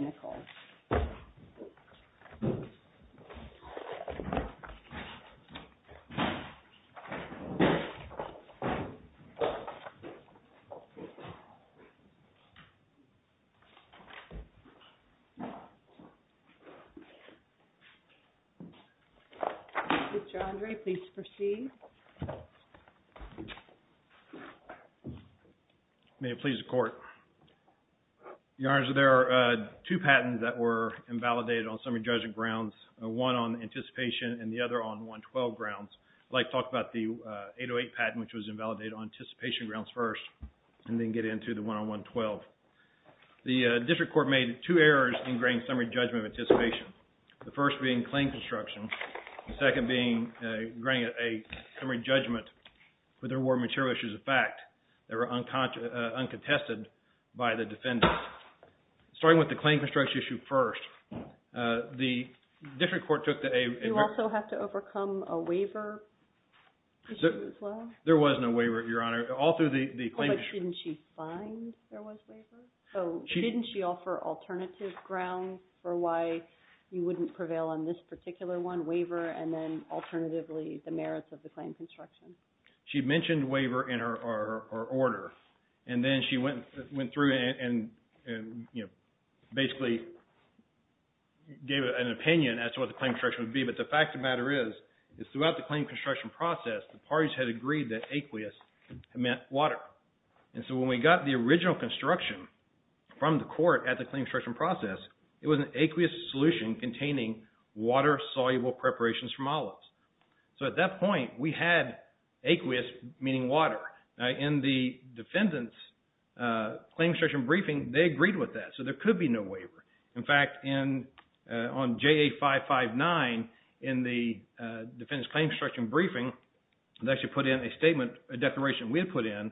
Mr. Andre, please proceed. May it please the court. Your Honor, there are two patents that were invalidated on summary judgment grounds, one on anticipation and the other on 112 grounds. I'd like to talk about the 808 patent, which was invalidated on anticipation grounds first and then get into the one on 112. The district court made two errors in granting summary judgment of anticipation, the first being claim construction, the second being granting a summary judgment, but there were material issues of fact that were uncontested by the defendant. Starting with the claim construction issue first, the district court took the error. You also have to overcome a waiver issue as well? There was no waiver, Your Honor. All through the claim issue. But didn't she find there was waiver? So didn't she offer alternative grounds for why you wouldn't prevail on this particular one, waiver, and then alternatively the merits of the claim construction? She mentioned waiver in her order and then she went through and basically gave an opinion as to what the claim construction would be, but the fact of the matter is, is throughout the claim construction process, the parties had agreed that aqueous meant water. And so when we got the original construction from the court at the claim construction process, it was an aqueous solution containing water-soluble preparations from olives. So at that point, we had aqueous, meaning water. In the defendant's claim construction briefing, they agreed with that, so there could be no waiver. In fact, on JA559, in the defendant's claim construction briefing, they actually put in a statement, a declaration we had put in,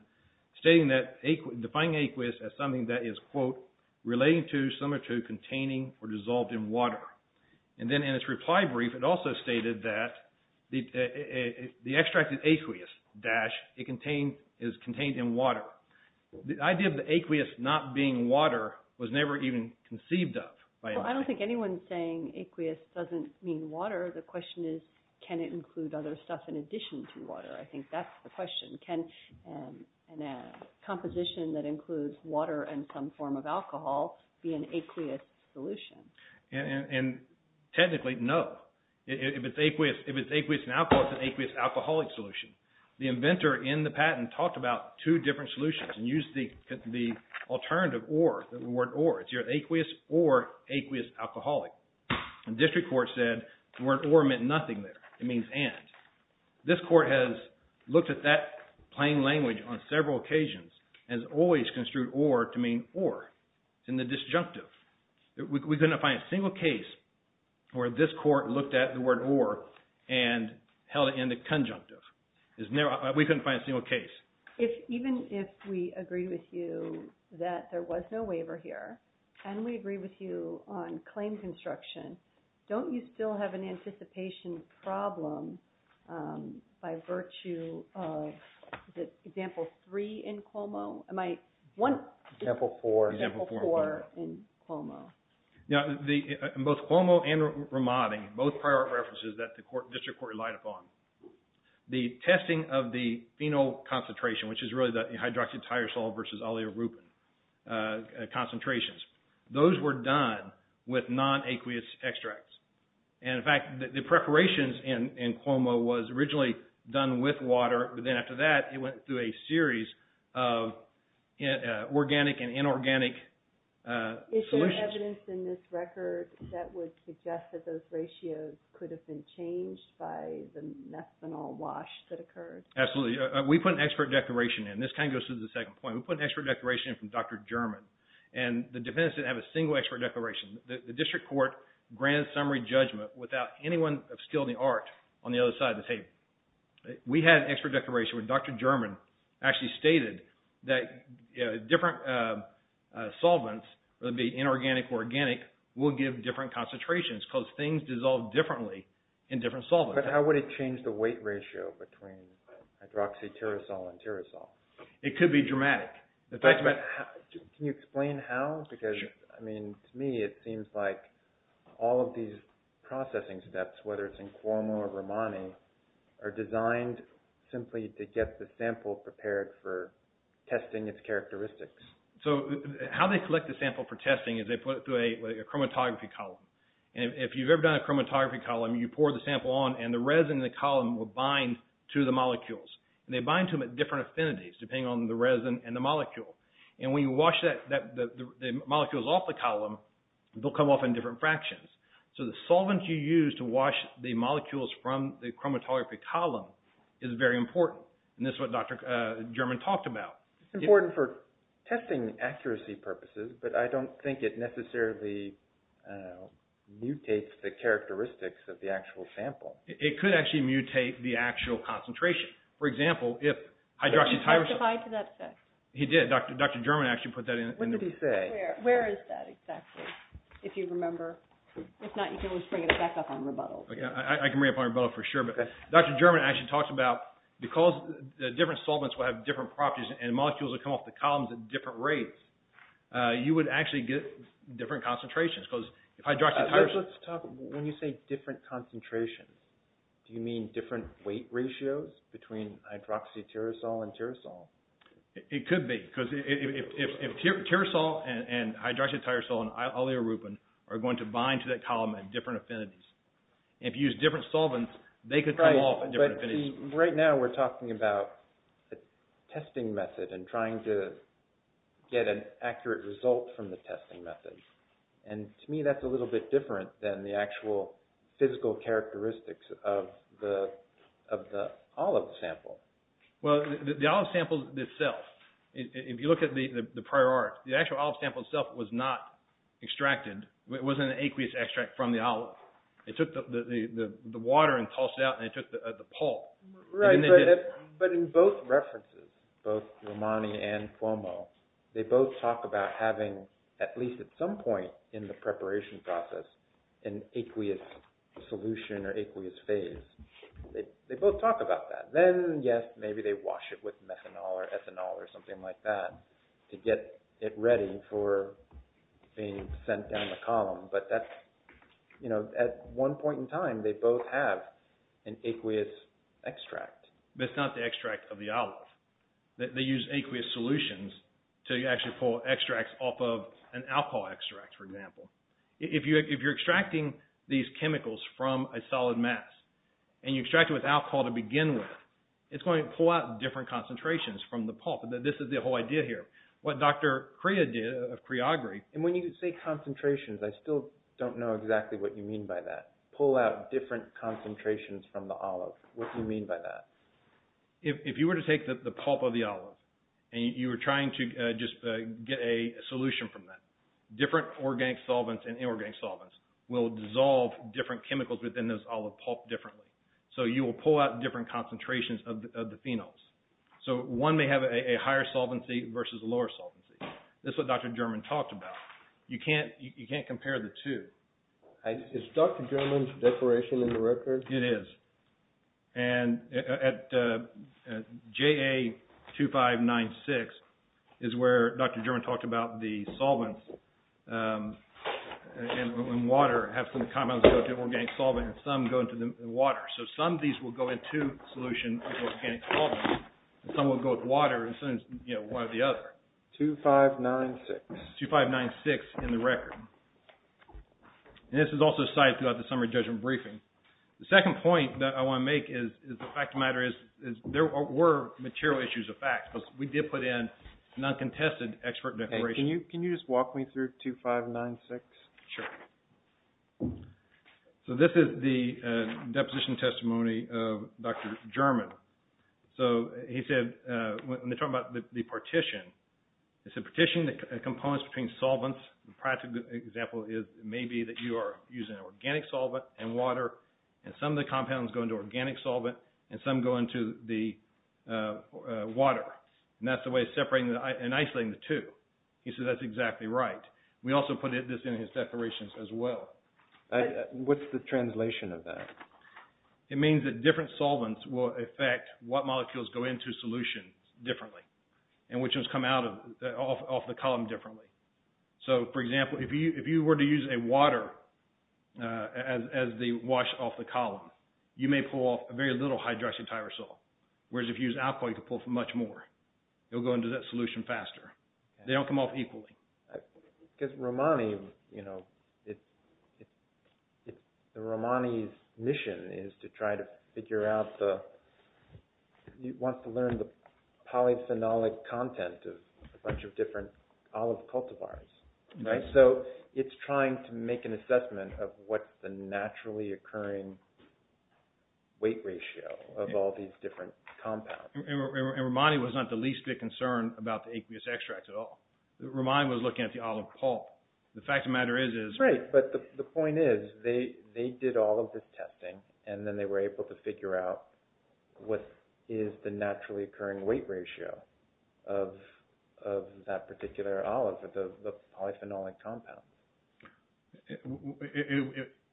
stating that defining aqueous as something that is, quote, relating to, similar to, containing, or dissolved in water. And then in its reply brief, it also stated that the extracted aqueous, dash, is contained in water. The idea of the aqueous not being water was never even conceived of by anybody. Well, I don't think anyone's saying aqueous doesn't mean water. The question is, can it include other stuff in addition to water? I think that's the question. Can a composition that includes water and some form of alcohol be an aqueous solution? And technically, no. If it's aqueous in alcohol, it's an aqueous alcoholic solution. The inventor in the patent talked about two different solutions and used the alternative or, the word or. It's either aqueous or aqueous alcoholic. And district court said, the word or meant nothing there. It means and. This court has looked at that plain language on several occasions and has always construed or to mean or in the disjunctive. We couldn't find a single case where this court looked at the word or and held it in the conjunctive. We couldn't find a single case. Even if we agree with you that there was no waiver here, and we agree with you on claim construction, don't you still have an anticipation problem by virtue of, is it example three in Cuomo? Example four. Example four in Cuomo. Now, both Cuomo and Ramadi, both prior references that the district court relied upon, the testing of the phenol concentration, which is really the hydroxyl tyrosol versus olea rupin concentrations, those were done with non-aqueous extracts. And in fact, the preparations in Cuomo was originally done with water, but then after that, it went through a series of organic and inorganic solutions. Is there evidence in this record that would suggest that those ratios could have been changed by the methanol wash that occurred? Absolutely. We put an expert declaration in. This kind of goes to the second point. We put an expert declaration in from Dr. German. And the defense didn't have a single expert declaration. The district court granted summary judgment without anyone upscaling the art on the other side of the table. We had an expert declaration where Dr. German actually stated that different solvents, whether it be inorganic or organic, will give different concentrations because things dissolve differently in different solvents. But how would it change the weight ratio between hydroxyl tyrosol and tyrosol? It could be dramatic. Can you explain how? Because, I mean, to me it seems like all of these processing steps, whether it's in Cuomo or Romani, are designed simply to get the sample prepared for testing its characteristics. So how they collect the sample for testing is they put it through a chromatography column. And if you've ever done a chromatography column, you pour the sample on and the resin in the column will bind to the molecules. And they bind to them at different affinities, depending on the resin and the molecule. And when you wash the molecules off the column, they'll come off in different fractions. So the solvent you use to wash the molecules from the chromatography column is very important. And this is what Dr. German talked about. It's important for testing accuracy purposes, but I don't think it necessarily mutates the characteristics of the actual sample. It could actually mutate the actual concentration. For example, if hydroxyl tyrosol... Did he specify to that effect? He did. Dr. German actually put that into... What did he say? Where is that exactly, if you remember? If not, you can always bring it back up on rebuttal. I can bring it up on rebuttal for sure. But Dr. German actually talked about, because the different solvents will have different properties and molecules will come off the columns at different rates, you would actually get different concentrations. Because if hydroxyl tyrosol... Let's talk, when you say different concentrations, do you mean different weight ratios between hydroxyl tyrosol and tyrosol? It could be. Because if tyrosol and hydroxyl tyrosol and oleoerupin are going to bind to that column at different affinities, if you use different solvents, they could come off at different affinities. Right now, we're talking about a testing method and trying to get an accurate result from the testing method. And to me, that's a little bit different than the actual physical characteristics of the olive sample. Well, the olive sample itself, if you look at the prior art, the actual olive sample itself was not extracted. It wasn't an aqueous extract from the olive. They took the water and tossed it out and they took the pulp. Right, but in both references, both Romani and Cuomo, they both talk about having, at least at some point in the preparation process, an aqueous solution or aqueous phase. They both talk about that. Then, yes, maybe they wash it with methanol or ethanol or something like that to get it ready for being sent down the column. But at one point in time, they both have an aqueous extract. But it's not the extract of the olive. They use aqueous solutions to actually pull extracts off of an alcohol extract, for example. If you're extracting these chemicals from a solid mass and you extract it with alcohol to begin with, it's going to pull out different concentrations from the pulp. This is the whole idea here. What Dr. Crea did, of Creagre... And when you say concentrations, I still don't know exactly what you mean by that. Pull out different concentrations from the olive. What do you mean by that? If you were to take the pulp of the olive and you were trying to just get a solution from that, different organic solvents and inorganic solvents will dissolve different chemicals within this olive pulp differently. So you will pull out different concentrations of the phenols. So one may have a higher solvency versus a lower solvency. This is what Dr. German talked about. You can't compare the two. Is Dr. German's declaration in the record? It is. And at JA2596 is where Dr. German talked about the solvents and water have some compounds go to organic solvent and some go into the water. So some of these will go into solution with organic solvent and some will go with water and some, you know, one or the other. 2596. 2596 in the record. And this is also cited throughout the summary judgment briefing. The second point that I want to make is the fact of the matter is there were material issues of facts, but we did put in non-contested expert declarations. Can you just walk me through 2596? Sure. So this is the deposition testimony of Dr. German. So he said when they're talking about the partition, he said partition, the components between solvents, the practical example is maybe that you are using organic solvent and water and some of the compounds go into organic solvent and some go into the water. And that's the way of separating and isolating the two. He said that's exactly right. We also put this in his declarations as well. What's the translation of that? It means that different solvents will affect what molecules go into solution differently and which ones come out of the column differently. So, for example, if you were to use a water as the wash off the column, you may pull off very little hydroxyl tyrosol, whereas if you use alcohol, you can pull off much more. It'll go into that solution faster. They don't come off equally. Because Romani, you know, Romani's mission is to try to figure out the, he wants to learn the polyphenolic content of a bunch of different olive cultivars, right? So it's trying to make an assessment of what's the naturally occurring weight ratio of all these different compounds. And Romani was not the least bit concerned about the aqueous extracts at all. Romani was looking at the olive pulp. The fact of the matter is... Right, but the point is they did all of this testing and then they were able to figure out what is the naturally occurring weight ratio of that particular olive, the polyphenolic compound.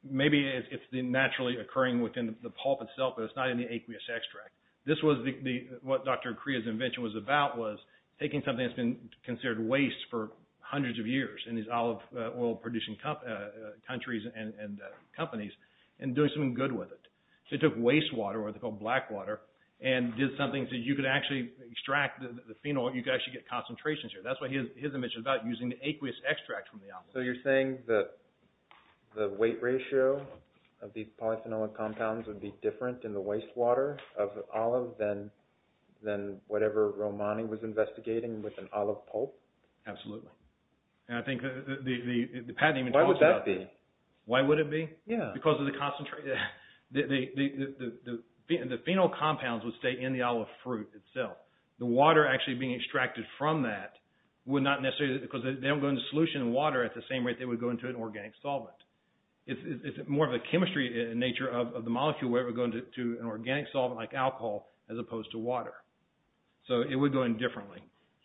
Maybe it's the naturally occurring within the pulp itself, but it's not in the aqueous extract. This was what Dr. Crea's invention was about, was taking something that's been considered waste for hundreds of years in these olive oil producing countries and companies, and doing something good with it. So he took wastewater, or what they call black water, and did something so you could actually extract the phenol, you could actually get concentrations here. That's what his invention was about, using the aqueous extract from the olive. So you're saying that the weight ratio of these polyphenolic compounds would be different in the wastewater of an olive than whatever Romani was investigating with an olive pulp? Absolutely. And I think the patent even talks about that. Why would that be? Why would it be? Yeah. Because of the concentrate... The phenol compounds would stay in the olive fruit itself. The water actually being extracted from that would not necessarily... Because they don't go into solution and water at the same rate they would go into an organic solvent. It's more of a chemistry nature of the molecule where it would go into an organic solvent like alcohol as opposed to water. So it would go in differently.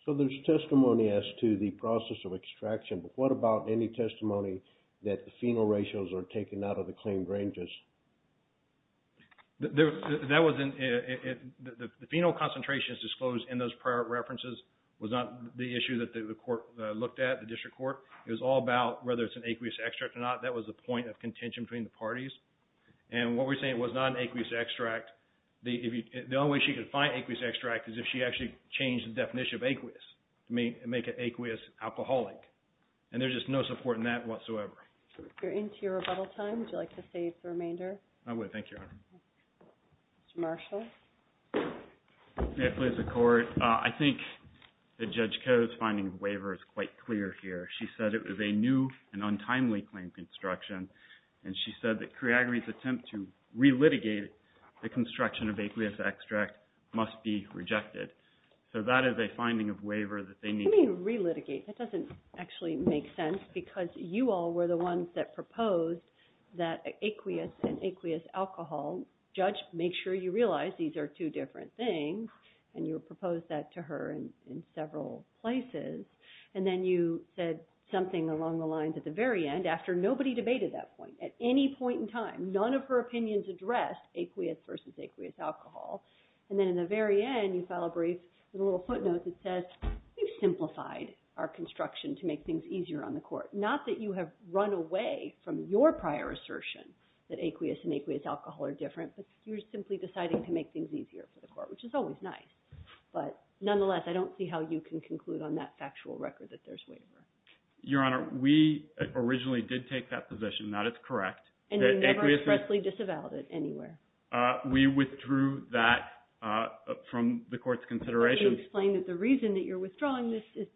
So there's testimony as to the process of extraction, but what about any testimony that the phenol ratios are taken out of the claimed ranges? The phenol concentrations disclosed in those prior references was not the issue that the court looked at, the district court. It was all about whether it's an aqueous extract or not. That was the point of contention between the parties. And what we're saying was not an aqueous extract. The only way she could find aqueous extract is if she actually changed the definition of aqueous to make it aqueous-alcoholic. And there's just no support in that whatsoever. We're into your rebuttal time. Would you like to save the remainder? I would. Thank you, Your Honor. Mr. Marshall? May it please the Court? I think that Judge Koh's finding of the waiver is quite clear here. She said it was a new and untimely claim construction, and she said that Criagri's attempt to re-litigate the construction of aqueous extract must be rejected. So that is a finding of waiver that they need. What do you mean re-litigate? That doesn't actually make sense because you all were the ones that proposed that aqueous and aqueous-alcohol. Judge, make sure you realize these are two different things, and you proposed that to her in several places. And then you said something along the lines at the very end, after nobody debated that point, at any point in time, none of her opinions addressed aqueous versus aqueous-alcohol. And then in the very end, you file a brief with a little footnote that says, we've simplified our construction to make things easier on the Court. Not that you have run away from your prior assertion that aqueous and aqueous-alcohol are different, but you're simply deciding to make things easier for the Court, which is always nice. But nonetheless, I don't see how you can conclude on that factual record that there's waiver. Your Honor, we originally did take that position. That is correct. And you never expressly disavowed it anywhere. We withdrew that from the Court's consideration. But you explained that the reason that you're withdrawing this is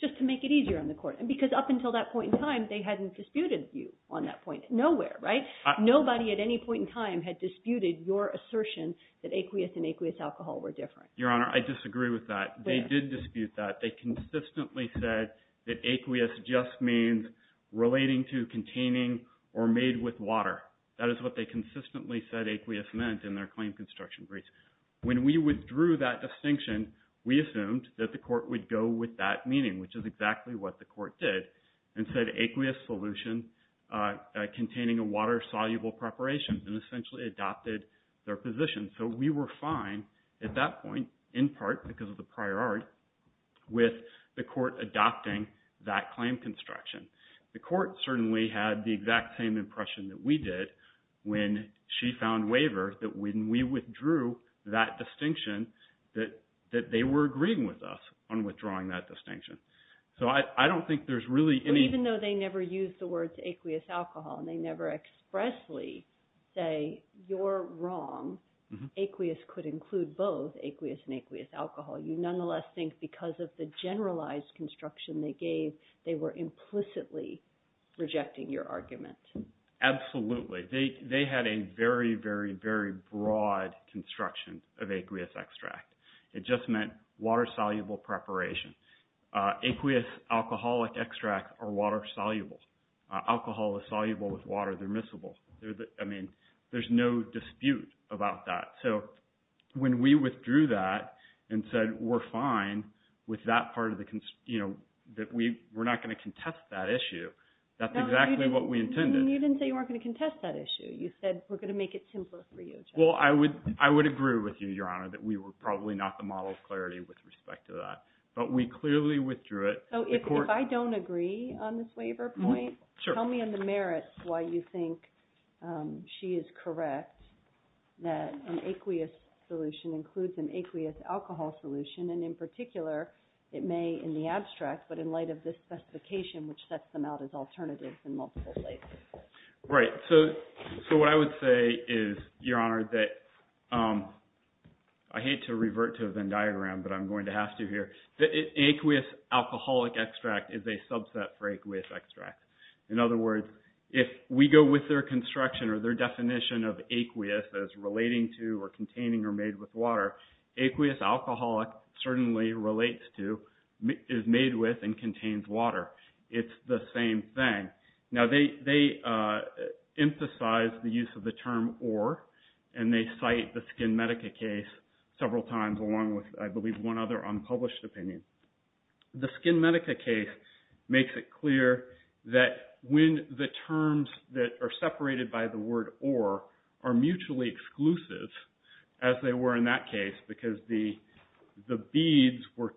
just to make it easier on the Court. And because up until that point in time, they hadn't disputed you on that point. Nowhere, right? Nobody at any point in time had disputed your assertion that aqueous and aqueous-alcohol were different. Your Honor, I disagree with that. They did dispute that. They consistently said that aqueous just means relating to containing or made with water. That is what they consistently said aqueous meant in their claim construction briefs. When we withdrew that distinction, we assumed that the Court would go with that meaning, which is exactly what the Court did, and said aqueous solution containing a water-soluble preparation, and essentially adopted their position. So we were fine at that point, in part because of the prior art, with the Court adopting that claim construction. The Court certainly had the exact same impression that we did when she found waiver that when we withdrew that distinction, that they were agreeing with us on withdrawing that distinction. So I don't think there's really any… Aqueous could include both aqueous and aqueous-alcohol. You nonetheless think because of the generalized construction they gave, they were implicitly rejecting your argument. Absolutely. They had a very, very, very broad construction of aqueous extract. It just meant water-soluble preparation. Aqueous alcoholic extracts are water-soluble. Alcohol is soluble with water. They're miscible. I mean, there's no dispute about that. So when we withdrew that and said we're fine with that part of the… that we're not going to contest that issue, that's exactly what we intended. You didn't say you weren't going to contest that issue. You said we're going to make it simpler for you. Well, I would agree with you, Your Honor, that we were probably not the model of clarity with respect to that. But we clearly withdrew it. So if I don't agree on this waiver point, tell me in the merits why you think she is correct that an aqueous solution includes an aqueous-alcohol solution. And in particular, it may in the abstract, but in light of this specification, which sets them out as alternatives in multiple places. Right. So what I would say is, Your Honor, that I hate to revert to the Venn diagram, but I'm going to have to here. Aqueous-alcoholic extract is a subset for aqueous extract. In other words, if we go with their construction or their definition of aqueous as relating to or containing or made with water, aqueous-alcoholic certainly relates to, is made with, and contains water. It's the same thing. Now, they emphasize the use of the term or, and they cite the SkinMedica case several times along with, I believe, one other unpublished opinion. The SkinMedica case makes it clear that when the terms that are separated by the word or are mutually exclusive, as they were in that case, because the beads were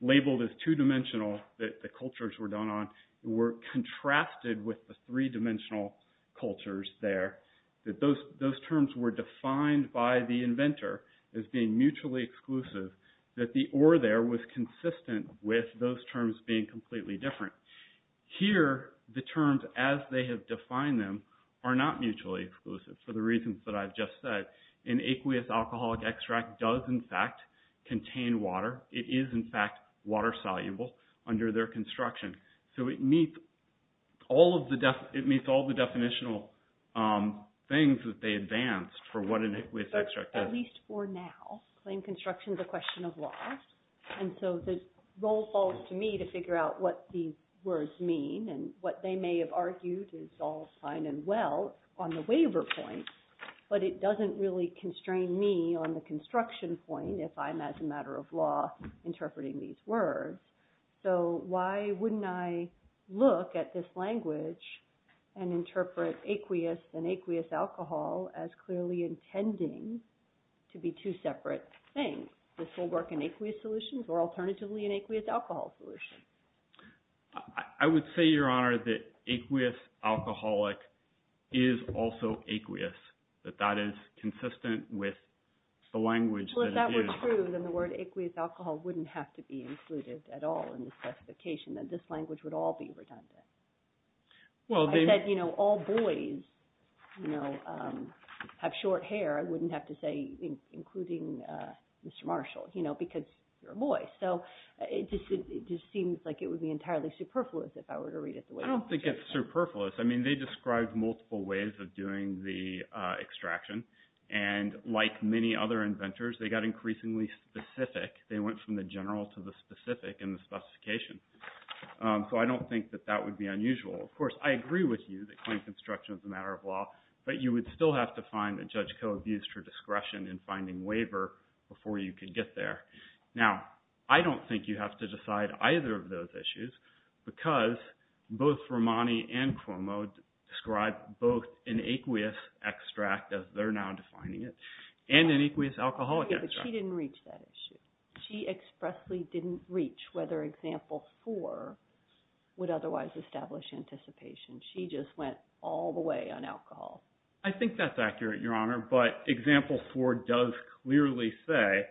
labeled as two-dimensional, that the cultures were done on, were contrasted with the three-dimensional cultures there, that those terms were defined by the inventor as being mutually exclusive, that the or there was consistent with those terms being completely different. Here, the terms as they have defined them are not mutually exclusive for the reasons that I've just said. An aqueous-alcoholic extract does, in fact, contain water. It is, in fact, water-soluble under their construction. So, it meets all of the definitional things that they advanced for what an aqueous extract is. At least for now. Claim construction is a question of law. And so, the role falls to me to figure out what these words mean and what they may have argued is all fine and well on the waiver point, but it doesn't really constrain me on the construction point if I'm, as a matter of law, interpreting these words. So, why wouldn't I look at this language and interpret aqueous and aqueous-alcohol as clearly intending to be two separate things? This will work in aqueous solutions or alternatively in aqueous-alcohol solutions. I would say, Your Honor, that aqueous-alcoholic is also aqueous. If that's true, then the word aqueous-alcohol wouldn't have to be included at all in the specification, that this language would all be redundant. I said, you know, all boys, you know, have short hair. I wouldn't have to say including Mr. Marshall, you know, because you're a boy. So, it just seems like it would be entirely superfluous if I were to read it the way it is. I don't think it's superfluous. I mean, they described multiple ways of doing the extraction. And, like many other inventors, they got increasingly specific. They went from the general to the specific in the specification. So, I don't think that that would be unusual. Of course, I agree with you that claim construction is a matter of law, but you would still have to find a judge co-abused her discretion in finding waiver before you could get there. Now, I don't think you have to decide either of those issues because both Romani and Cuomo described both an aqueous extract, as they're now defining it, and an aqueous alcoholic extract. But she didn't reach that issue. She expressly didn't reach whether example four would otherwise establish anticipation. She just went all the way on alcohol. I think that's accurate, Your Honor, but example four does clearly say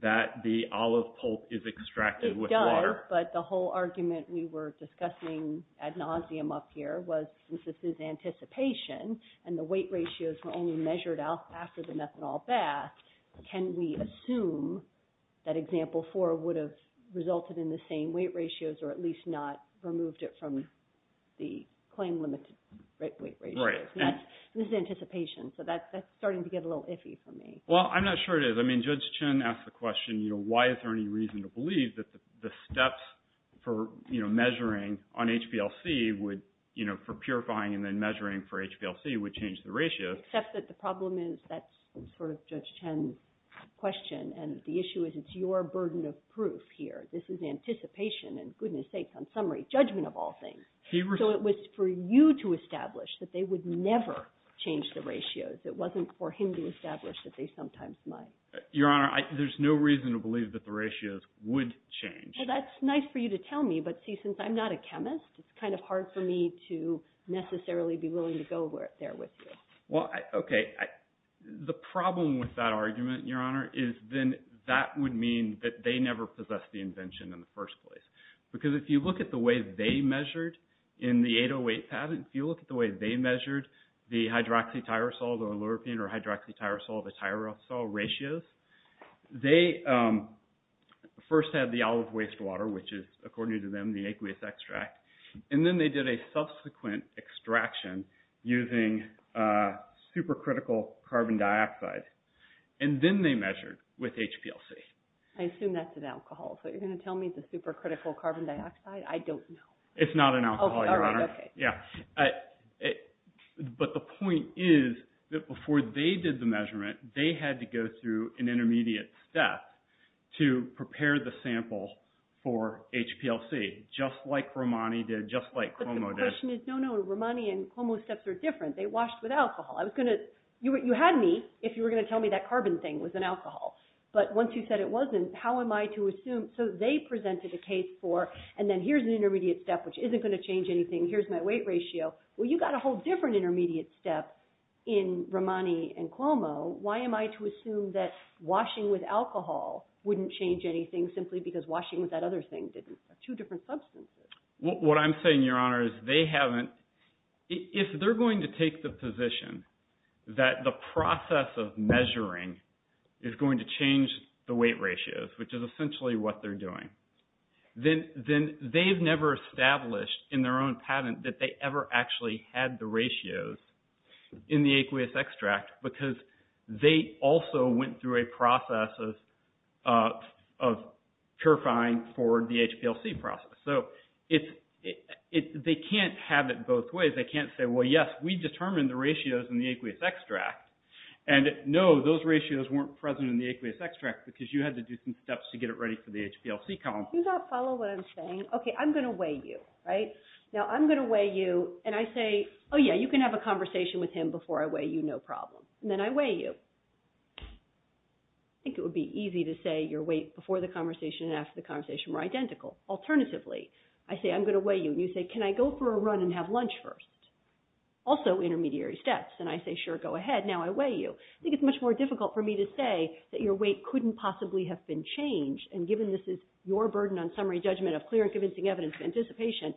that the olive pulp is extracted with water. Sure, but the whole argument we were discussing ad nauseum up here was, since this is anticipation and the weight ratios were only measured after the methanol bath, can we assume that example four would have resulted in the same weight ratios or at least not removed it from the claim-limited weight ratios? Right. This is anticipation, so that's starting to get a little iffy for me. Well, I'm not sure it is. I mean, Judge Chen asked the question, you know, why is there any reason to believe that the steps for, you know, measuring on HPLC would, you know, for purifying and then measuring for HPLC would change the ratios. Except that the problem is that's sort of Judge Chen's question, and the issue is it's your burden of proof here. This is anticipation, and goodness sakes, on summary, judgment of all things. So it was for you to establish that they would never change the ratios. It wasn't for him to establish that they sometimes might. Your Honor, there's no reason to believe that the ratios would change. Well, that's nice for you to tell me, but see, since I'm not a chemist, it's kind of hard for me to necessarily be willing to go there with you. Well, okay, the problem with that argument, Your Honor, is then that would mean that they never possessed the invention in the first place. Because if you look at the way they measured in the 808 patent, if you look at the way they measured the hydroxytyrosols or alluropine or hydroxytyrosol to tyrosol ratios, they first had the olive waste water, which is, according to them, the egg waste extract. And then they did a subsequent extraction using supercritical carbon dioxide. And then they measured with HPLC. I assume that's an alcohol. So you're going to tell me it's a supercritical carbon dioxide? I don't know. It's not an alcohol, Your Honor. All right, okay. Yeah, but the point is that before they did the measurement, they had to go through an intermediate step to prepare the sample for HPLC, just like Romani did, just like Cuomo did. But the question is, no, no, Romani and Cuomo's steps are different. They washed with alcohol. You had me if you were going to tell me that carbon thing was an alcohol. But once you said it wasn't, how am I to assume? So they presented a case for, and then here's an intermediate step which isn't going to change anything. Here's my weight ratio. Well, you've got a whole different intermediate step in Romani and Cuomo. Why am I to assume that washing with alcohol wouldn't change anything simply because washing with that other thing didn't? They're two different substances. What I'm saying, Your Honor, is they haven't. If they're going to take the position that the process of measuring is going to change the weight ratios, which is essentially what they're doing, then they've never established in their own patent that they ever actually had the ratios in the aqueous extract because they also went through a process of purifying for the HPLC process. So they can't have it both ways. They can't say, well, yes, we determined the ratios in the aqueous extract. And no, those ratios weren't present in the aqueous extract because you had to do some steps to get it ready for the HPLC column. Do you not follow what I'm saying? Okay, I'm going to weigh you, right? Now, I'm going to weigh you, and I say, oh, yeah, you can have a conversation with him before I weigh you, no problem. And then I weigh you. I think it would be easy to say your weight before the conversation and after the conversation were identical. Alternatively, I say, I'm going to weigh you, and you say, can I go for a run and have lunch first? Also intermediary steps, and I say, sure, go ahead. Now I weigh you. I think it's much more difficult for me to say that your weight couldn't possibly have been changed, and given this is your burden on summary judgment of clear and convincing evidence and anticipation,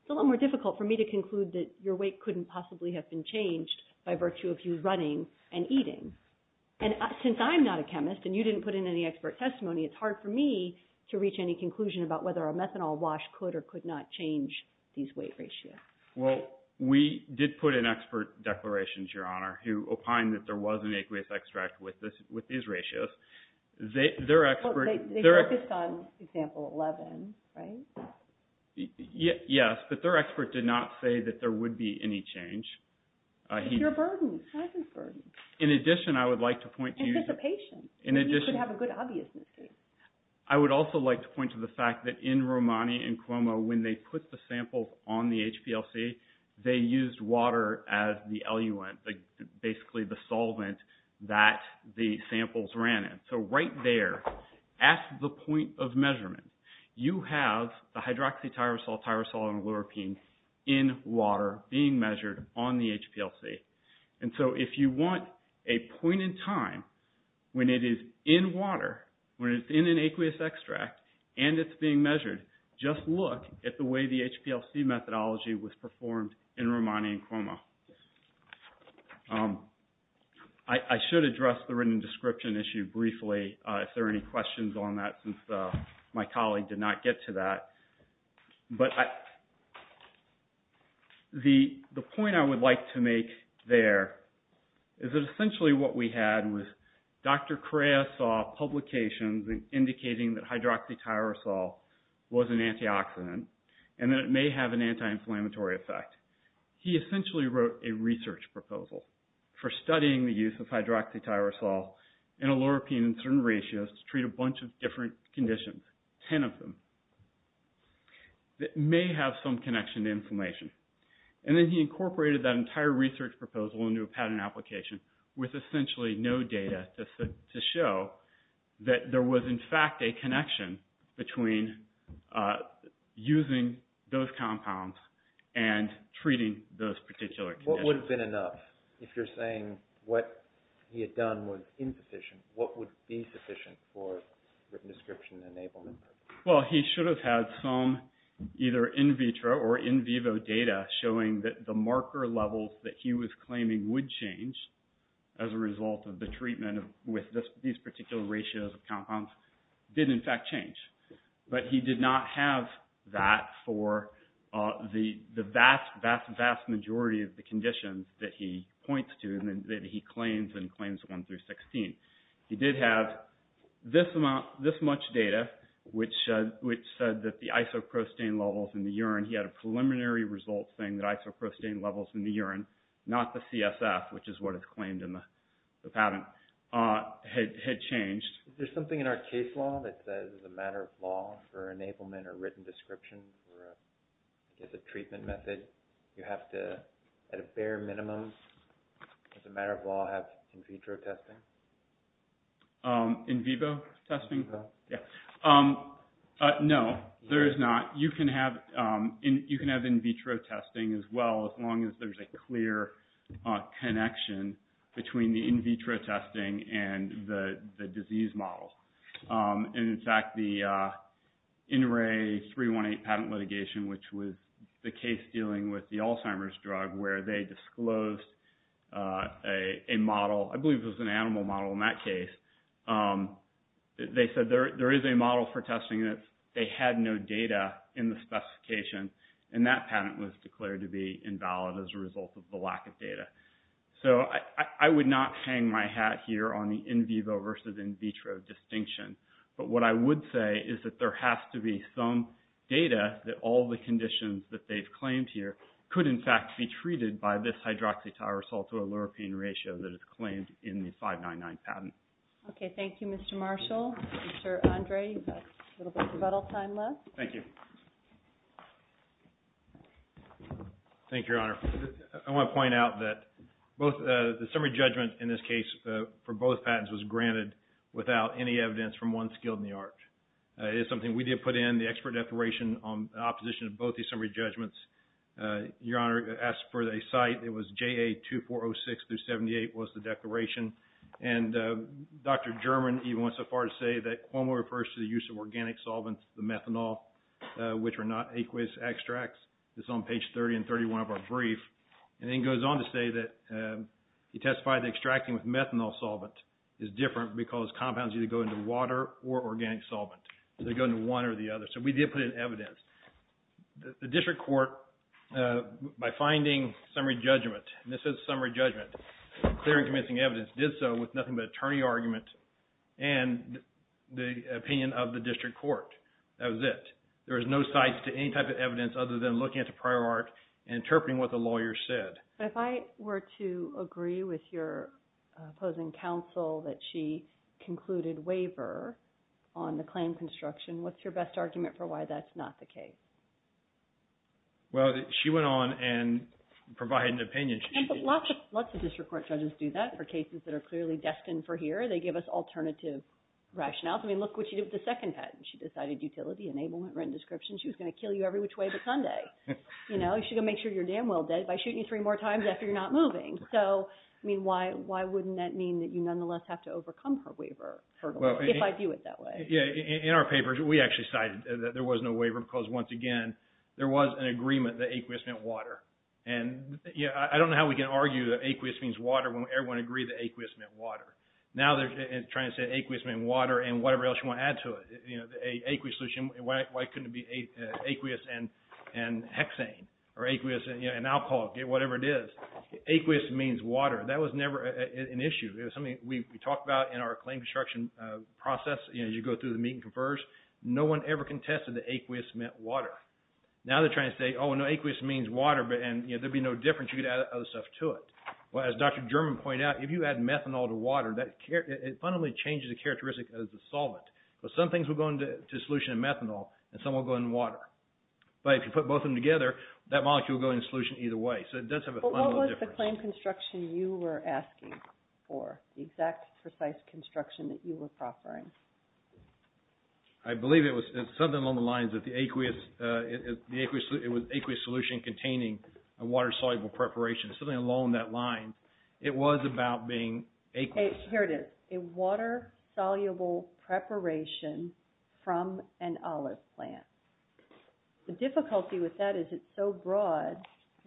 it's a lot more difficult for me to conclude that your weight couldn't possibly have been changed by virtue of you running and eating. And since I'm not a chemist and you didn't put in any expert testimony, it's hard for me to reach any conclusion about whether a methanol wash could or could not change these weight ratios. Well, we did put in expert declarations, Your Honor, who opined that there was an aqueous extract with these ratios. They focused on example 11, right? Yes, but their expert did not say that there would be any change. It's your burden. It's his burden. In addition, I would like to point to you. Anticipation. You could have a good obviousness case. I would also like to point to the fact that in Romani and Cuomo, when they put the samples on the HPLC, they used water as the eluent, basically the solvent that the samples ran in. So right there, at the point of measurement, you have the hydroxytyrosol, tyrosol, and loropine in water being measured on the HPLC. And so if you want a point in time when it is in water, when it's in an aqueous extract, and it's being measured, just look at the way the HPLC methodology was performed in Romani and Cuomo. I should address the written description issue briefly, if there are any questions on that, since my colleague did not get to that. But the point I would like to make there is that essentially what we had was Dr. Correa saw publications indicating that hydroxytyrosol was an antioxidant and that it may have an anti-inflammatory effect. He essentially wrote a research proposal for studying the use of hydroxytyrosol and loropine in certain ratios to treat a bunch of different conditions, 10 of them, that may have some connection to inflammation. And then he incorporated that entire research proposal into a patent application with essentially no data to show that there was, in fact, a connection between using those compounds and treating those particular conditions. If that would have been enough, if you're saying what he had done was insufficient, what would be sufficient for written description enablement? Well, he should have had some either in vitro or in vivo data showing that the marker levels that he was claiming would change as a result of the treatment with these particular ratios of compounds did, in fact, change. But he did not have that for the vast, vast, vast majority of the conditions that he points to and that he claims in Claims 1 through 16. He did have this much data, which said that the isoprostein levels in the urine, he had a preliminary result saying that isoprostein levels in the urine, not the CSF, which is what is claimed in the patent, had changed. Is there something in our case law that says, as a matter of law, for enablement or written description for, I guess, a treatment method, you have to, at a bare minimum, as a matter of law, have in vitro testing? In vivo testing? Yeah. No, there is not. You can have in vitro testing as well as long as there's a clear connection between the in vitro testing and the disease model. And, in fact, the NRA 318 patent litigation, which was the case dealing with the Alzheimer's drug where they disclosed a model, I believe it was an animal model in that case. They said there is a model for testing that they had no data in the specification, and that patent was declared to be invalid as a result of the lack of data. So I would not hang my hat here on the in vivo versus in vitro distinction, but what I would say is that there has to be some data that all the conditions that they've claimed here could, in fact, be treated by this hydroxytyrosal to a lower pain ratio that is claimed in the 599 patent. Okay. Thank you, Mr. Marshall. Mr. Andre, you've got a little bit of rebuttal time left. Thank you. Thank you, Your Honor. I want to point out that the summary judgment in this case for both patents was granted without any evidence from one skilled in the art. It is something we did put in the expert declaration on the opposition of both these summary judgments. Your Honor, as per the site, it was JA2406-78 was the declaration. And Dr. German even went so far to say that Cuomo refers to the use of organic solvents, the methanol, which are not aqueous extracts. It's on page 30 and 31 of our brief. And then he goes on to say that he testified that extracting with methanol solvent is different because compounds either go into water or organic solvent. They go into one or the other. So we did put in evidence. The district court, by finding summary judgment, and this is summary judgment, clear and convincing evidence, did so with nothing but attorney argument and the opinion of the district court. That was it. There was no sites to any type of evidence other than looking at the prior art and interpreting what the lawyer said. But if I were to agree with your opposing counsel that she concluded waiver on the claim construction, what's your best argument for why that's not the case? Well, she went on and provided an opinion. Lots of district court judges do that for cases that are clearly destined for here. They give us alternative rationales. I mean, look what she did with the second patent. She decided utility, enablement, rent description. She was going to kill you every which way but Sunday. She's going to make sure you're damn well dead by shooting you three more times after you're not moving. So, I mean, why wouldn't that mean that you nonetheless have to overcome her waiver if I view it that way? In our papers, we actually cited that there was no waiver because, once again, there was an agreement that aqueous meant water. And I don't know how we can argue that aqueous means water when everyone agreed that aqueous meant water. Now they're trying to say aqueous meant water and whatever else you want to add to it. Why couldn't it be aqueous and hexane or aqueous and alcohol, whatever it is? Aqueous means water. That was never an issue. It was something we talked about in our claim construction process. You go through the meet and confers. No one ever contested that aqueous meant water. Now they're trying to say, oh, no, aqueous means water and there'd be no difference. You could add other stuff to it. Well, as Dr. German pointed out, if you add methanol to water, it fundamentally changes the characteristic of the solvent. Some things will go into a solution of methanol and some will go in water. But if you put both of them together, that molecule will go in a solution either way. So it does have a fundamental difference. Well, what was the claim construction you were asking for, the exact, precise construction that you were proffering? I believe it was something along the lines of the aqueous solution containing a water-soluble preparation. Something along that line. It was about being aqueous. Here it is. A water-soluble preparation from an olive plant. The difficulty with that is it's so broad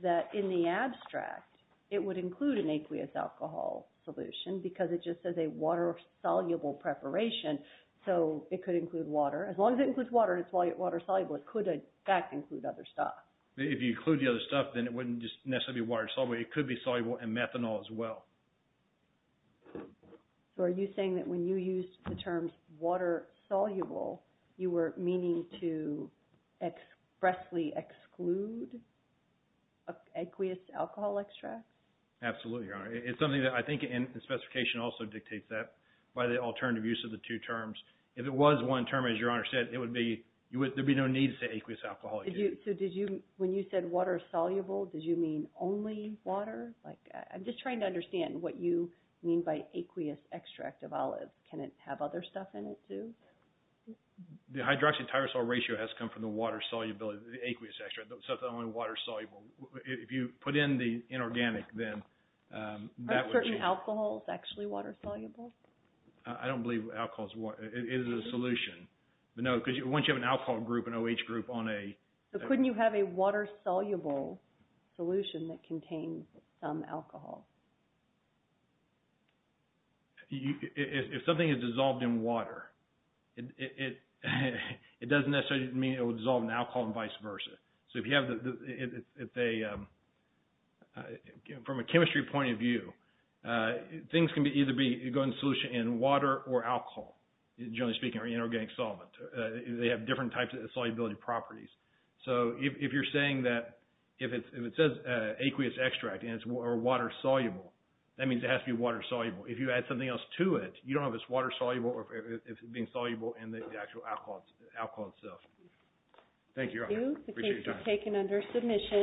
that in the abstract it would include an aqueous alcohol solution because it just says a water-soluble preparation. So it could include water. As long as it includes water and it's water-soluble, it could, in fact, include other stuff. If you include the other stuff, then it wouldn't just necessarily be water-soluble. It could be soluble in methanol as well. So are you saying that when you used the terms water-soluble, you were meaning to expressly exclude aqueous alcohol extract? Absolutely, Your Honor. It's something that I think in the specification also dictates that by the alternative use of the two terms. If it was one term, as Your Honor said, there would be no need to say aqueous alcohol. So when you said water-soluble, did you mean only water? I'm just trying to understand what you mean by aqueous extract of olives. Can it have other stuff in it, too? The hydroxytyrosyl ratio has to come from the water solubility, the aqueous extract. It's not only water-soluble. If you put in the inorganic, then that would change. Are certain alcohols actually water-soluble? I don't believe alcohols are water-soluble. It is a solution. No, because once you have an alcohol group, an OH group on a… So couldn't you have a water-soluble solution that contains some alcohol? If something is dissolved in water, it doesn't necessarily mean it will dissolve in alcohol and vice versa. From a chemistry point of view, things can either go in solution in water or alcohol, generally speaking, or inorganic solvent. They have different types of solubility properties. If you're saying that… If it says aqueous extract or water-soluble, that means it has to be water-soluble. If you add something else to it, you don't know if it's water-soluble or if it's being soluble in the actual alcohol itself. Appreciate your time. Thank you. The case is taken under submission.